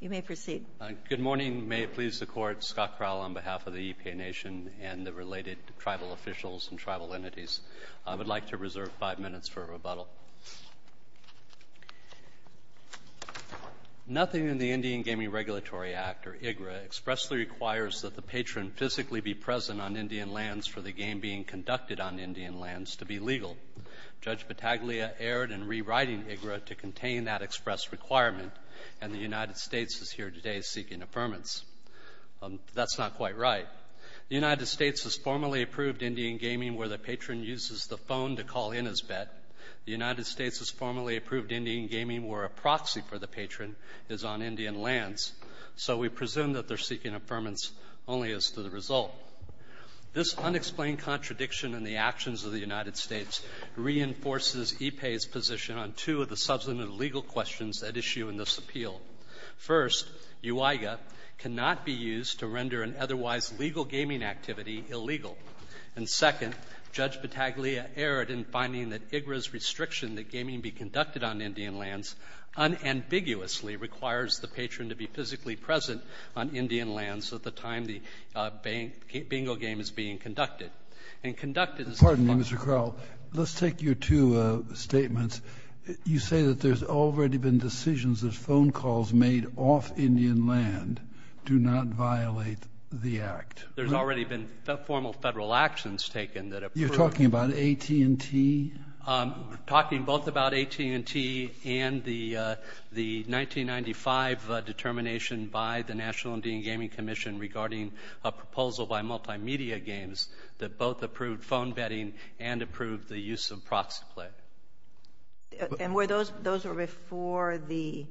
You may proceed. Good morning. May it please the Court, Scott Crowell on behalf of the Iipay Nation and the related tribal officials and tribal entities. I would like to reserve five minutes for a rebuttal. Nothing in the Indian Gaming Regulatory Act, or IGRA, expressly requires that the patron physically be present on Indian lands for the game being conducted on Indian lands to be legal. Judge Battaglia erred in rewriting IGRA to contain that express requirement, and the United States is here today seeking affirmance. That's not quite right. The United States has formally approved Indian gaming where the patron uses the phone to call in his bet. The United States has formally approved Indian gaming where a proxy for the patron is on Indian lands. So we presume that they're seeking affirmance only as to the result. This unexplained contradiction in the actions of the United States reinforces Iipay's position on two of the subsequent legal questions at issue in this appeal. First, UIGA cannot be used to render an otherwise legal gaming activity illegal. And second, Judge Battaglia erred in finding that IGRA's restriction that gaming be conducted on Indian lands unambiguously requires the patron to be physically present on Indian lands at the time the game is being conducted. Pardon me, Mr. Crowell. Let's take your two statements. You say that there's already been decisions that phone calls made off Indian land do not violate the act. There's already been formal federal actions taken that approve. You're talking about AT&T? We're talking both about AT&T and the 1995 determination by the National Indian Gaming Commission regarding a proposal by Multimedia Games that both approved phone betting and approved the use of proxy play. And were those before the,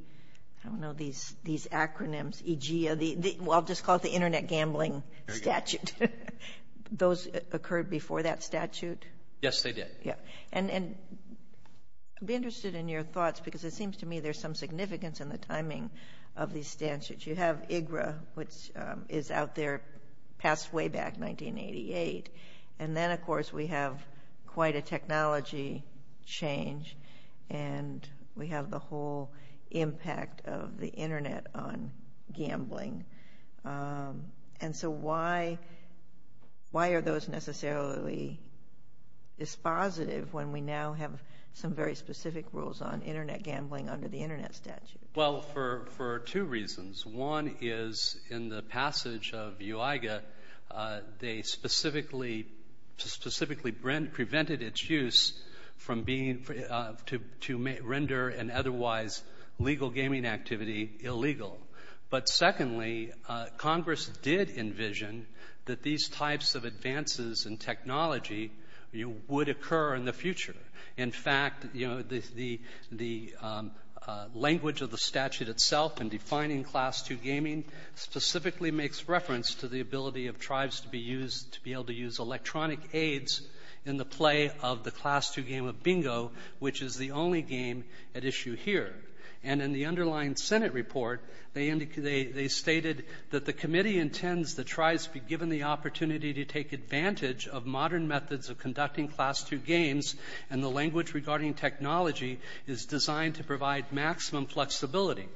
I don't know, these acronyms, EGA, I'll just call it the Internet Gambling Statute. Those occurred before that statute? Yes, they did. And I'd be interested in your thoughts because it seems to me there's some significance in the timing of these statutes. You have IGRA, which is out there, passed way back, 1988. And then, of course, we have quite a technology change, and we have the whole impact of the Internet on gambling. And so why are those necessarily dispositive when we now have some very specific rules on Internet gambling under the Internet statute? Well, for two reasons. One is in the passage of UIGA, they specifically prevented its use to render an otherwise legal gaming activity illegal. But secondly, Congress did envision that these types of advances in technology would occur in the future. In fact, you know, the language of the statute itself in defining Class 2 gaming specifically makes reference to the ability of tribes to be used, to be able to use electronic aids in the play of the Class 2 game of bingo, which is the only game at issue here. And in the underlying Senate report, they indicated they stated that the committee intends that tribes be given the opportunity to take advantage of modern methods of conducting Class 2 games, and the language regarding technology is designed to provide maximum flexibility.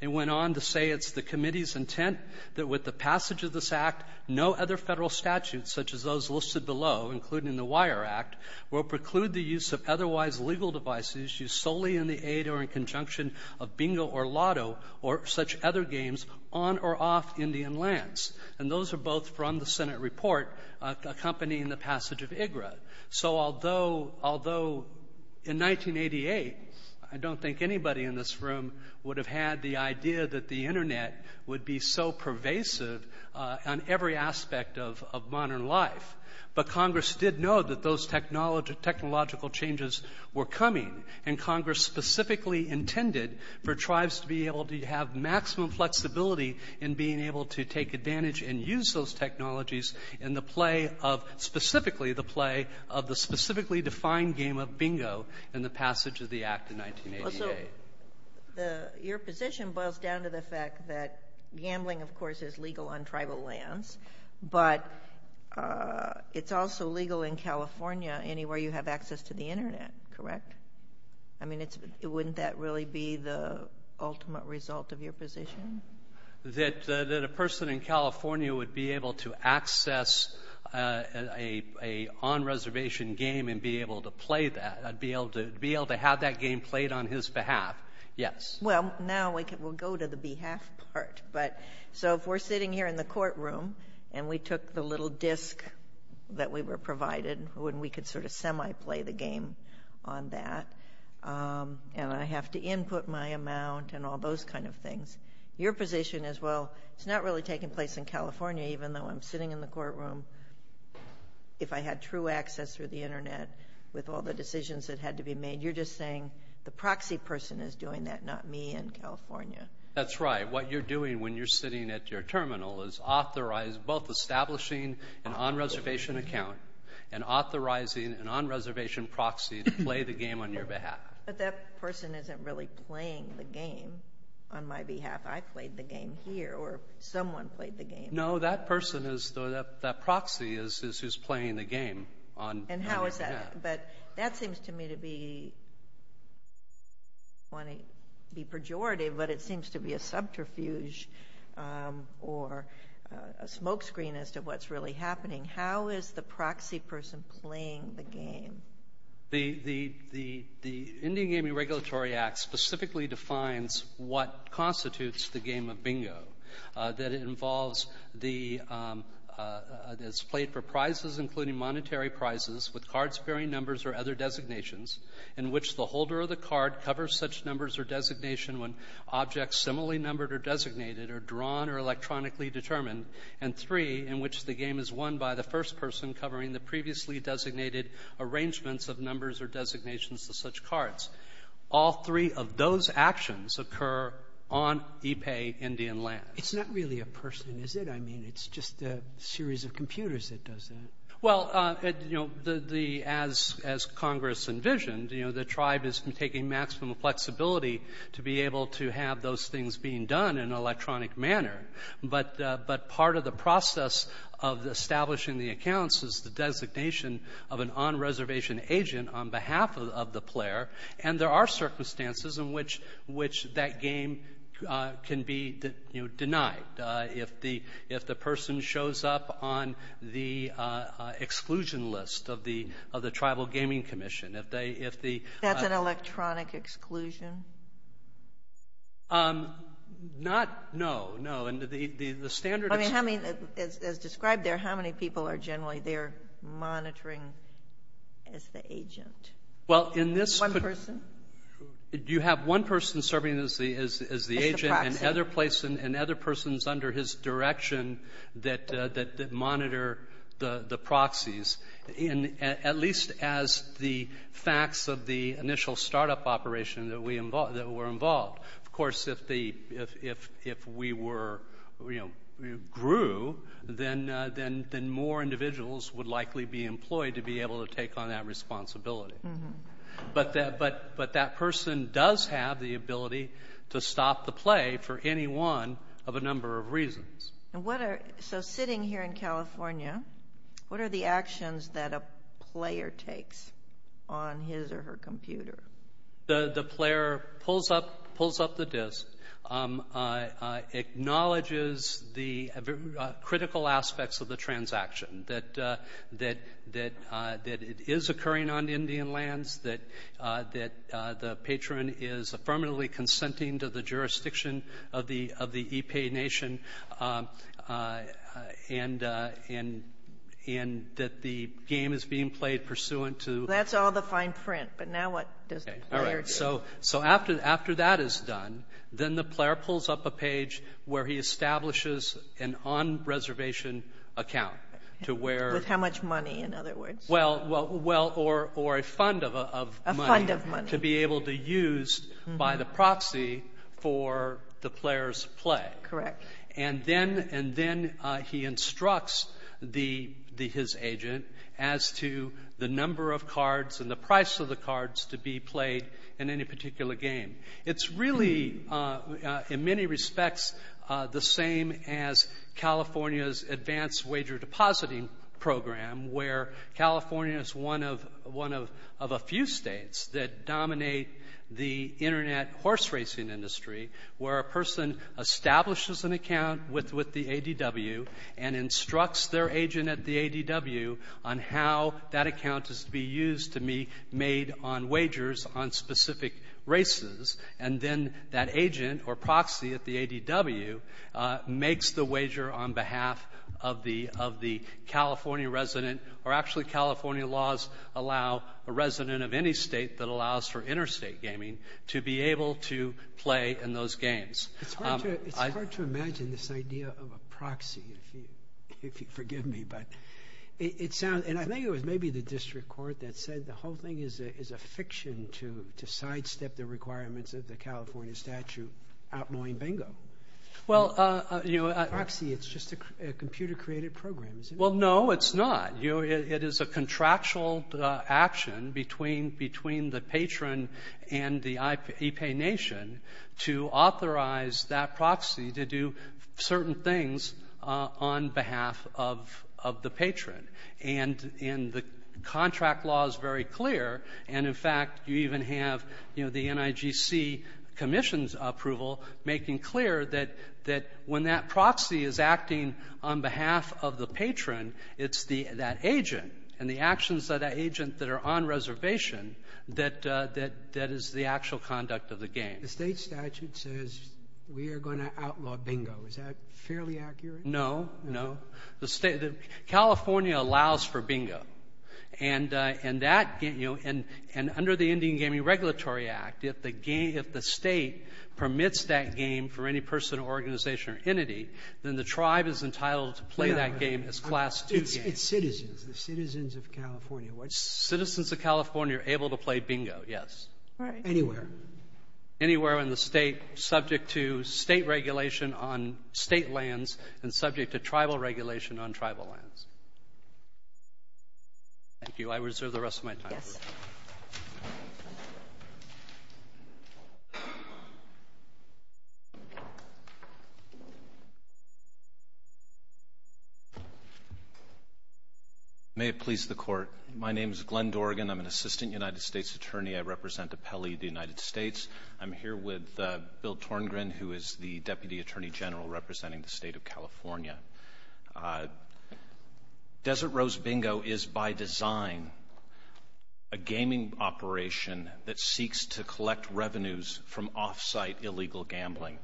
They went on to say it's the committee's intent that with the passage of this Act, no other Federal statute, such as those listed below, including the Wire Act, will preclude the use of otherwise legal devices used solely in the aid or in conjunction of bingo or lotto or such other games on or off Indian lands. And those are both from the Senate report accompanying the passage of UIGA. So although, although in 1988, I don't think anybody in this room would have had the idea that the Internet would be so pervasive on every aspect of modern life, but Congress did know that those technological changes were coming. And Congress specifically intended for tribes to be able to have maximum flexibility in being able to take advantage and use those technologies in the play of, specifically the play of the specifically defined game of bingo in the passage of the Act of 1988. So your position boils down to the fact that gambling, of course, is legal on tribal lands, but it's also legal in California anywhere you have access to the Internet, correct? I mean, wouldn't that really be the ultimate result of your position? That a person in California would be able to access an on-reservation game and be able to play that, be able to have that game played on his behalf, yes. Well, now we'll go to the behalf part. So if we're sitting here in the courtroom and we took the little disc that we were provided when we could sort of semi-play the game on that, and I have to input my amount and all those kind of things, your position is, well, it's not really taking place in California, even though I'm sitting in the courtroom. If I had true access through the Internet with all the decisions that had to be made, you're just saying the proxy person is doing that, not me in California. That's right. What you're doing when you're sitting at your terminal is both establishing an on-reservation account and authorizing an on-reservation proxy to play the game on your behalf. But that person isn't really playing the game on my behalf. I played the game here, or someone played the game. No, that person, that proxy is who's playing the game on your behalf. And how is that? But that seems to me to be, I don't want to be pejorative, but it seems to be a subterfuge or a smoke screen as to what's really happening. How is the proxy person playing the game? The Indian Gaming Regulatory Act specifically defines what constitutes the game of bingo. It's played for prizes, including monetary prizes, with cards bearing numbers or other designations, in which the holder of the card covers such numbers or designation when objects similarly numbered or designated are drawn or electronically determined, and three, in which the game is won by the first person covering the previously designated arrangements of numbers or designations to such cards. All three of those actions occur on IPEI Indian land. It's not really a person, is it? I mean, it's just a series of computers that does that. Well, as Congress envisioned, the tribe is taking maximum flexibility to be able to have those things being done in an electronic manner. But part of the process of establishing the accounts is the designation of an on-reservation agent on behalf of the player, and there are circumstances in which that game can be denied if the person shows up on the exclusion list of the Tribal Gaming Commission. That's an electronic exclusion? Not, no, no. As described there, how many people are generally there monitoring as the agent? One person? You have one person serving as the agent and other persons under his direction that monitor the proxies, at least as the facts of the initial startup operation that were involved. Of course, if we grew, then more individuals would likely be employed to be able to take on that responsibility. But that person does have the ability to stop the play for any one of a number of reasons. So sitting here in California, what are the actions that a player takes on his or her computer? The player pulls up the disk, acknowledges the critical aspects of the transaction, that it is occurring on Indian lands, that the patron is affirmatively consenting to the jurisdiction of the EPA nation, and that the game is being played pursuant to the IPA. But now what does the player do? So after that is done, then the player pulls up a page where he establishes an on-reservation account to where — With how much money, in other words? Well, or a fund of money. A fund of money. To be able to use by the proxy for the player's play. Correct. And then — and then he instructs the — his agent as to the number of cards and the price of the cards to be played in any particular game. It's really, in many respects, the same as California's advanced wager depositing program, where California is one of — one of a few States that dominate the Internet horse racing industry, where a person establishes an account with the ADW and instructs their agent at the ADW on how that account is to be used to be made on wagers on specific races, and then that agent or proxy at the ADW makes the wager on behalf of the — of the California resident, or actually, California laws allow a resident of any State that allows for interstate gaming to be able to play in those games. It's hard to — it's hard to imagine this idea of a proxy, if you forgive me, but it sounds — and I think it was maybe the district court that said the whole thing is a fiction to sidestep the requirements of the California statute outlawing bingo. Well, you know — A proxy, it's just a computer-created program, isn't it? Well, no, it's not. You know, it is a contractual action between — between the patron and the IPA nation to authorize that proxy to do certain things on behalf of — of the patron. And — and the contract law is very clear, and in fact, you even have, you know, the NIGC commission's approval making clear that — that when that proxy is acting on behalf of the patron, it's the — that agent and the actions of that agent that are on reservation that — that — that is the actual conduct of the game. The State statute says we are going to outlaw bingo. Is that fairly accurate? No. No. The State — California allows for bingo. And — and that — you know, and — and under the Indian Gaming Regulatory Act, if the — if the State permits that game for any person or organization or entity, then the tribe is entitled to play that game as Class II games. It's — it's citizens, the citizens of California. Citizens of California are able to play bingo, yes. Right. Anywhere. Anywhere in the State subject to State regulation on State lands and subject to tribal regulation on tribal lands. Thank you. I reserve the rest of my time. Yes. May it please the Court. My name is Glenn Dorgan. I'm an Assistant United States Attorney. I represent Apelli, the United States. I'm here with Bill Torngren, who is the Deputy Attorney General representing the State of California. Desert Rose Bingo is, by design, a gaming operation that seeks to collect revenues from off-site illegal gambling.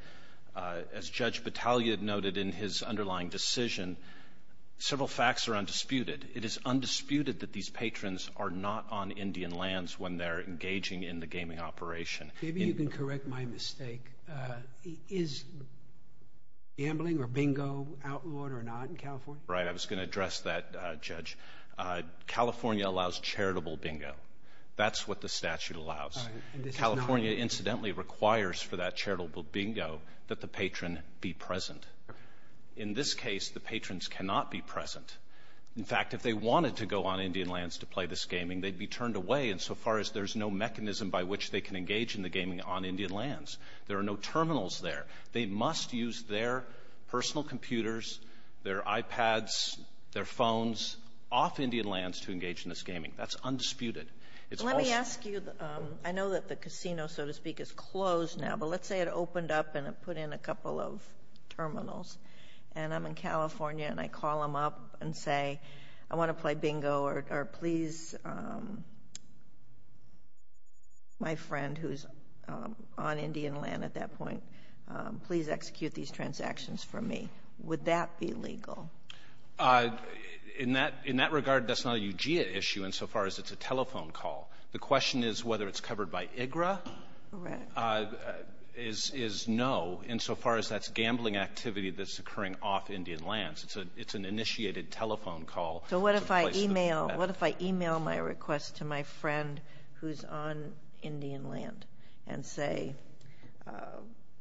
As Judge Battaglia noted in his underlying decision, several facts are undisputed. It is undisputed that these patrons are not on Indian lands when they're engaging in the gaming operation. Maybe you can correct my mistake. Is gambling or bingo outlawed or not in California? Right. I was going to address that, Judge. California allows charitable bingo. That's what the statute allows. California, incidentally, requires for that charitable bingo that the patron be present. In this case, the patrons cannot be present. In fact, if they wanted to go on Indian lands to play this gaming, they'd be turned away insofar as there's no mechanism by which they can engage in the gaming on Indian lands. There are no terminals there. They must use their personal computers, their iPads, their phones, off Indian lands to engage in this gaming. That's undisputed. Let me ask you, I know that the casino, so to speak, is closed now, but let's say it opened up and it put in a couple of terminals. And I'm in California, and I call them up and say, I want to play bingo, or please, my friend who's on Indian land at that point, please execute these transactions for me. Would that be legal? In that regard, that's not a UGA issue insofar as it's a telephone call. The question is whether it's covered by IGRA. Correct. Is no, insofar as that's gambling activity that's occurring off Indian lands. It's an initiated telephone call. So what if I email my request to my friend who's on Indian land and say,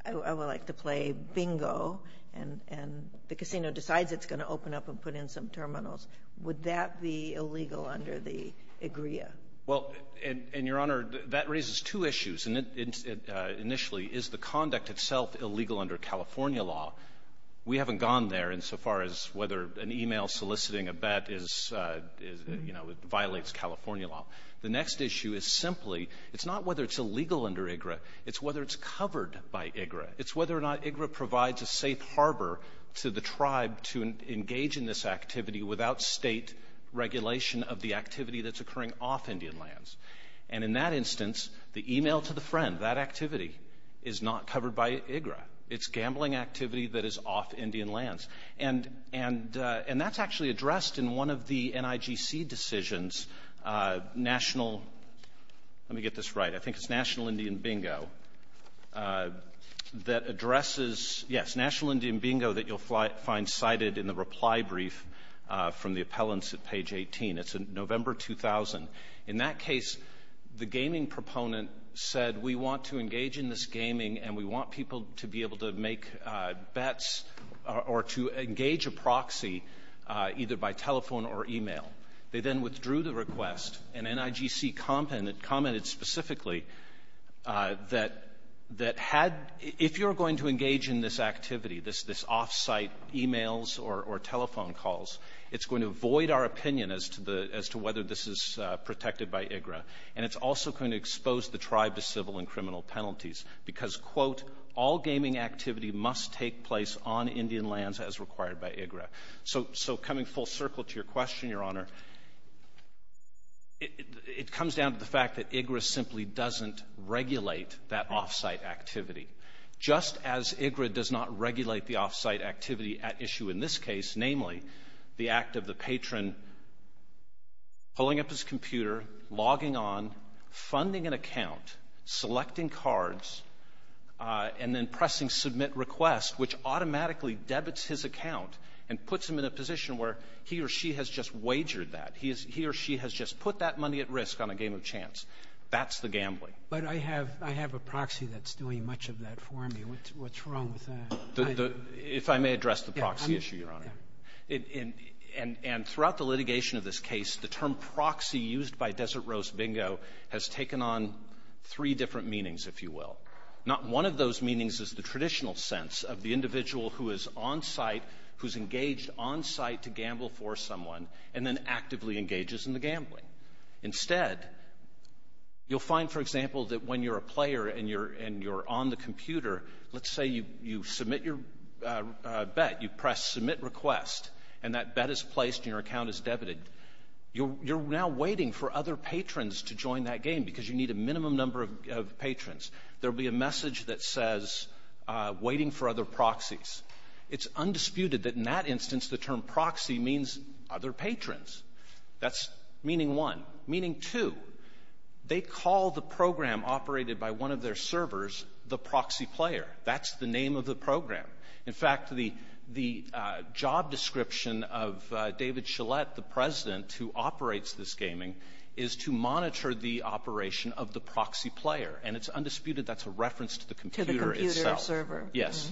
I would like to play bingo, and the casino decides it's going to open up and put in some terminals. Would that be illegal under the IGRA? Well, and, Your Honor, that raises two issues. And initially, is the conduct itself illegal under California law? We haven't gone there insofar as whether an email soliciting a bet is, you know, it violates California law. The next issue is simply, it's not whether it's illegal under IGRA. It's whether it's covered by IGRA. It's whether or not IGRA provides a safe harbor to the tribe to engage in this activity without State regulation of the activity that's occurring off Indian lands. And in that instance, the email to the friend, that activity, is not covered by IGRA. It's gambling activity that is off Indian lands. And that's actually addressed in one of the NIGC decisions, National — let me get this right. I think it's National Indian Bingo that addresses — yes, from the appellants at page 18. It's November 2000. In that case, the gaming proponent said, we want to engage in this gaming, and we want people to be able to make bets or to engage a proxy either by telephone or email. They then withdrew the request, and NIGC commented specifically that had — if you're going to engage in this activity, this off-site emails or telephone calls, it's going to avoid our opinion as to whether this is protected by IGRA. And it's also going to expose the tribe to civil and criminal penalties because, quote, all gaming activity must take place on Indian lands as required by IGRA. So coming full circle to your question, Your Honor, it comes down to the fact that IGRA simply doesn't regulate that off-site activity, just as IGRA does not regulate the off-site activity at issue in this case, namely the act of the patron pulling up his computer, logging on, funding an account, selecting cards, and then pressing submit request, which automatically debits his account and puts him in a position where he or she has just wagered that. He or she has just put that money at risk on a game of chance. That's the gambling. But I have a proxy that's doing much of that for me. What's wrong with that? If I may address the proxy issue, Your Honor. And throughout the litigation of this case, the term proxy used by Desert Rose Bingo has taken on three different meanings, if you will. Not one of those meanings is the traditional sense of the individual who is on-site, who's engaged on-site to gamble for someone, and then actively engages in the gambling. Instead, you'll find, for example, that when you're a player and you're on the computer, let's say you submit your bet, you press submit request, and that bet is placed and your account is debited, you're now waiting for other patrons to join that game because you need a minimum number of patrons. There will be a message that says, waiting for other proxies. It's undisputed that in that instance the term proxy means other patrons. That's meaning one. Meaning two, they call the program operated by one of their servers the proxy player. That's the name of the program. In fact, the job description of David Shillett, the President, who operates this gaming, is to monitor the operation of the proxy player. And it's undisputed that's a reference to the computer itself. Kagan. Yes.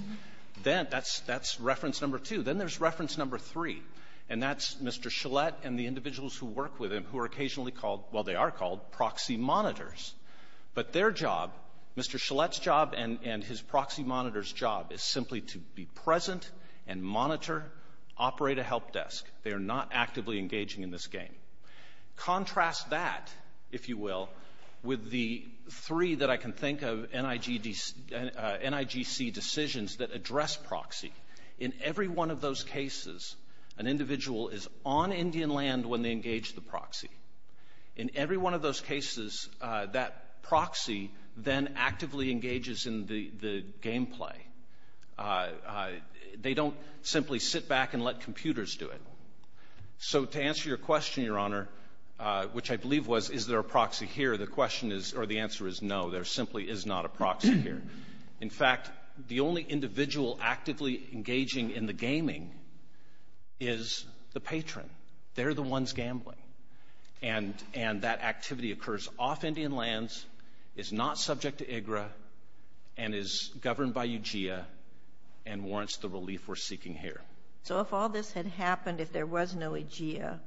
Then that's reference number two. Then there's reference number three. And that's Mr. Shillett and the individuals who work with him who are occasionally called, well, they are called proxy monitors. But their job, Mr. Shillett's job and his proxy monitor's job is simply to be present and monitor, operate a help desk. They are not actively engaging in this game. Contrast that, if you will, with the three that I can think of NIGC decisions that address proxy. In every one of those cases, an individual is on Indian land when they engage the proxy. In every one of those cases, that proxy then actively engages in the game play. They don't simply sit back and let computers do it. So to answer your question, Your Honor, which I believe was is there a proxy here, the question is or the answer is no. There simply is not a proxy here. In fact, the only individual actively engaging in the gaming is the patron. They're the ones gambling. And that activity occurs off Indian lands, is not subject to IGRA, and is governed by UGIA and warrants the relief we're seeking here. So if all this had happened, if there was no UGIA.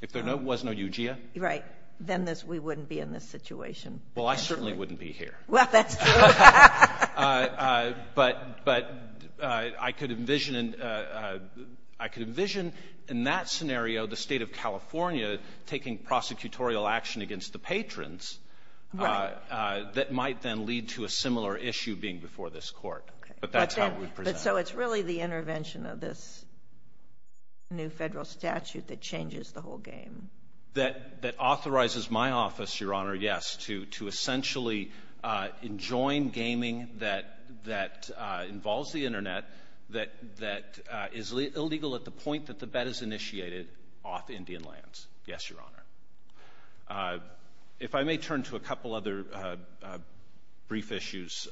If there was no UGIA. Right. Then we wouldn't be in this situation. Well, I certainly wouldn't be here. Well, that's true. But I could envision in that scenario the state of California taking prosecutorial action against the patrons. Right. That might then lead to a similar issue being before this court. But that's how we present it. But so it's really the intervention of this new federal statute that changes the whole game. That authorizes my office, Your Honor, yes, to essentially enjoin gaming that involves the Internet, that is illegal at the point that the bet is initiated off Indian lands. Yes, Your Honor. If I may turn to a couple other brief issues.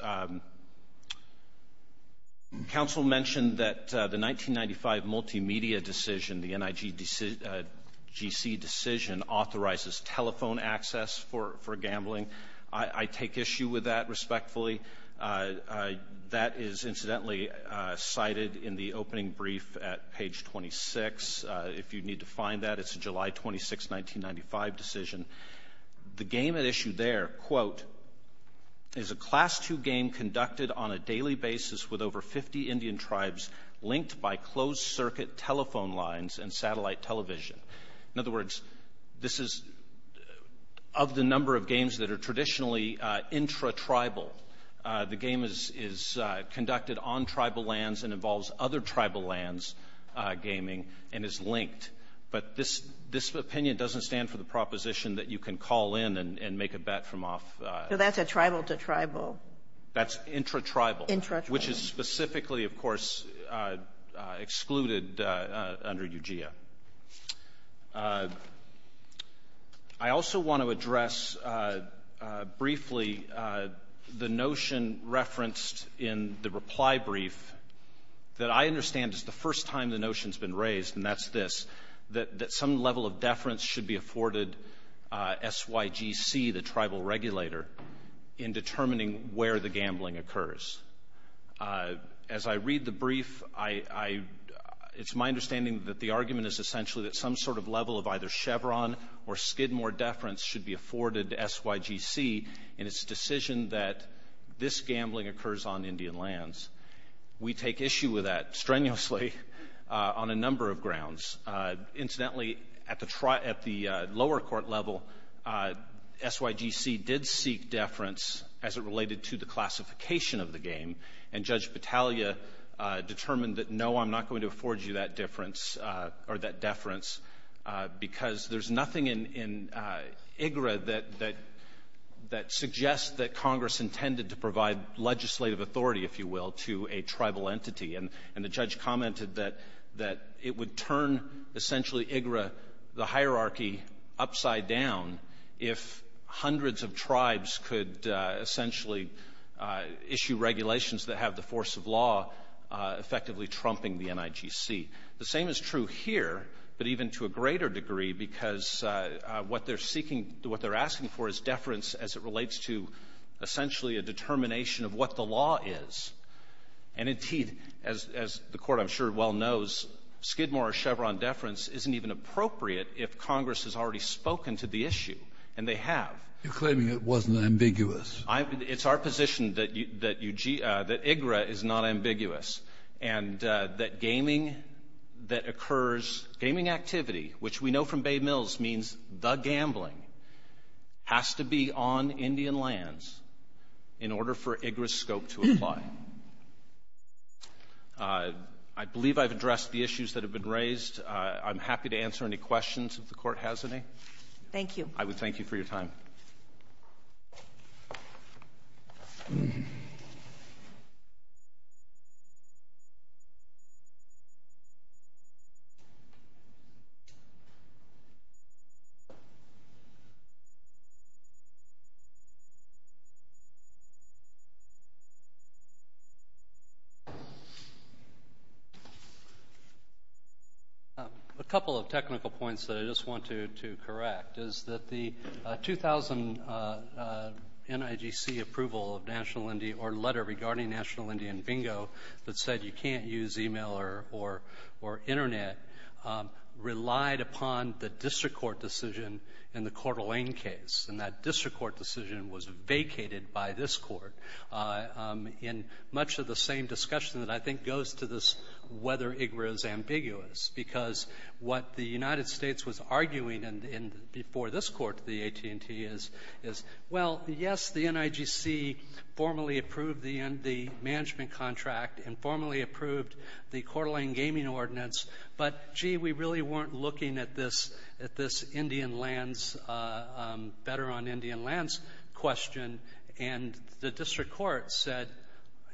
Counsel mentioned that the 1995 multimedia decision, the NIGGC decision, authorizes telephone access for gambling. I take issue with that respectfully. That is incidentally cited in the opening brief at page 26. If you need to find that, it's a July 26, 1995 decision. The game at issue there, quote, is a Class II game conducted on a daily basis with over 50 Indian tribes linked by closed-circuit telephone lines and satellite television. In other words, this is, of the number of games that are traditionally intra-tribal, the game is conducted on tribal lands and involves other tribal lands gaming and is linked. But this opinion doesn't stand for the proposition that you can call in and make a bet from off. So that's a tribal-to-tribal. That's intra-tribal. Intra-tribal. Which is specifically, of course, excluded under UGIA. I also want to address briefly the notion referenced in the reply brief that I understand is the first time the notion has been raised, and that's this, that some level of deference should be afforded SYGC, the tribal regulator, in determining where the gambling occurs. As I read the brief, it's my understanding that the argument is essentially that some sort of level of either Chevron or Skidmore deference should be afforded to SYGC in its decision that this gambling occurs on Indian lands. We take issue with that strenuously on a number of grounds. Incidentally, at the lower court level, SYGC did seek deference as it related to the classification of the game, and Judge Battaglia determined that, no, I'm not going to afford you that deference because there's nothing in IGRA that suggests that Congress intended to provide legislative authority, if you will, to a tribal entity. And the judge commented that it would turn essentially IGRA, the hierarchy, upside down if hundreds of tribes could essentially issue regulations that have the force of law effectively trumping the NIGC. The same is true here, but even to a greater degree, because what they're seeking to do, what they're asking for is deference as it relates to essentially a determination of what the law is. And, indeed, as the Court, I'm sure, well knows, Skidmore or Chevron deference isn't even appropriate if Congress has already spoken to the issue. And they have. You're claiming it wasn't ambiguous. It's our position that IGRA is not ambiguous. And that gaming that occurs, gaming activity, which we know from Bay Mills means the gambling, has to be on Indian lands in order for IGRA's scope to apply. I believe I've addressed the issues that have been raised. I'm happy to answer any questions if the Court has any. Thank you. I would thank you for your time. Thank you. A couple of technical points that I just want to correct is that the 2000 NIGC approval of National Indian or letter regarding National Indian bingo that said you can't use e-mail or Internet relied upon the district court decision in the Coeur d'Alene case, and that district court decision was vacated by this Court. And much of the same discussion that I think goes to this whether IGRA is ambiguous, because what the United States was arguing in the end before this Court, the AT&T, is, well, yes, the NIGC formally approved the management contract and formally approved the Coeur d'Alene gaming ordinance, but, gee, we really weren't looking at this, at this Indian lands, better on Indian lands question, and the district court said,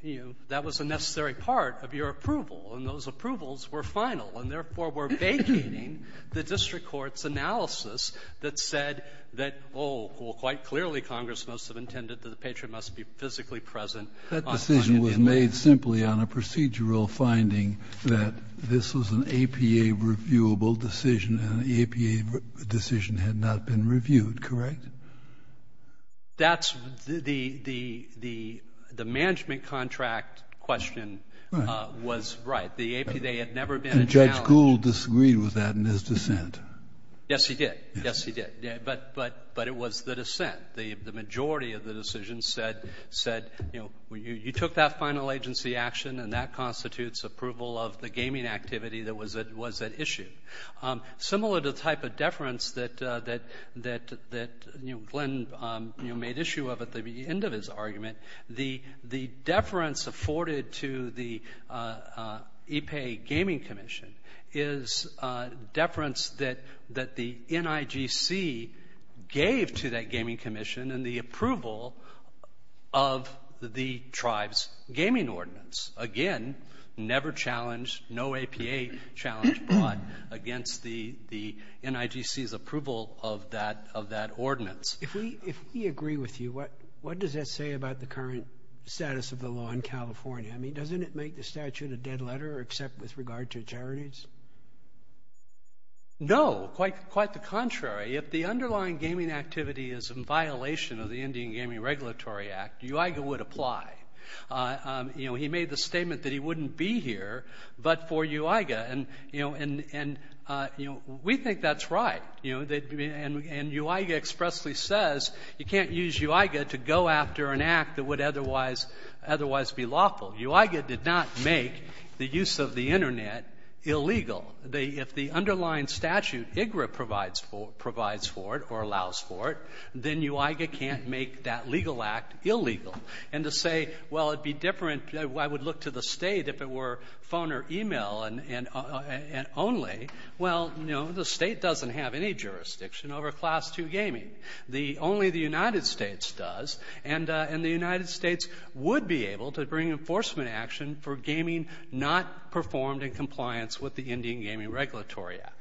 you know, that was a necessary part of your approval, and those approvals were final, and therefore were vacating the district court's analysis that said that, oh, well, quite clearly Congress must have intended that the patron must be physically present on Indian land. Kennedy, that decision was made simply on a procedural finding that this was an APA-reviewable decision, and the APA decision had not been reviewed, correct? That's the the management contract question was right. The APA had never been a challenge. And Judge Gould disagreed with that in his dissent. Yes, he did. Yes, he did. But it was the dissent. The majority of the decision said, you know, you took that final agency action, and that constitutes approval of the gaming activity that was at issue. Similar to the type of deference that, you know, Glenn, you know, made issue of at the end of his argument, the deference afforded to the EPA gaming commission is deference that the NIGC gave to that gaming commission and the approval of the tribe's gaming ordinance. Again, never challenged, no APA challenge brought against the NIGC's approval of that ordinance. If we agree with you, what does that say about the current status of the law in California? I mean, doesn't it make the statute a dead letter except with regard to charities? No, quite the contrary. If the underlying gaming activity is in violation of the Indian Gaming Regulatory Act, UIGA would apply. You know, he made the statement that he wouldn't be here but for UIGA. And, you know, we think that's right. And UIGA expressly says you can't use UIGA to go after an act that would otherwise be lawful. UIGA did not make the use of the Internet illegal. If the underlying statute, IGRA provides for it or allows for it, then UIGA can't make that legal act illegal. And to say, well, it would be different, I would look to the State if it were phone or e-mail and only, well, you know, the State doesn't have any jurisdiction over Class II gaming. Only the United States does. And the United States would be able to bring enforcement action for gaming not performed in compliance with the Indian Gaming Regulatory Act.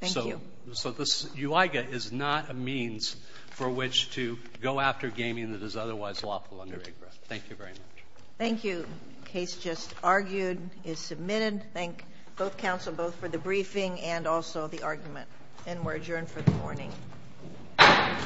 Thank you. So this UIGA is not a means for which to go after gaming that is otherwise lawful under IGRA. Thank you very much. Thank you. The case just argued is submitted. Thank both counsel both for the briefing and also the argument. And we're adjourned for the morning. Thank you.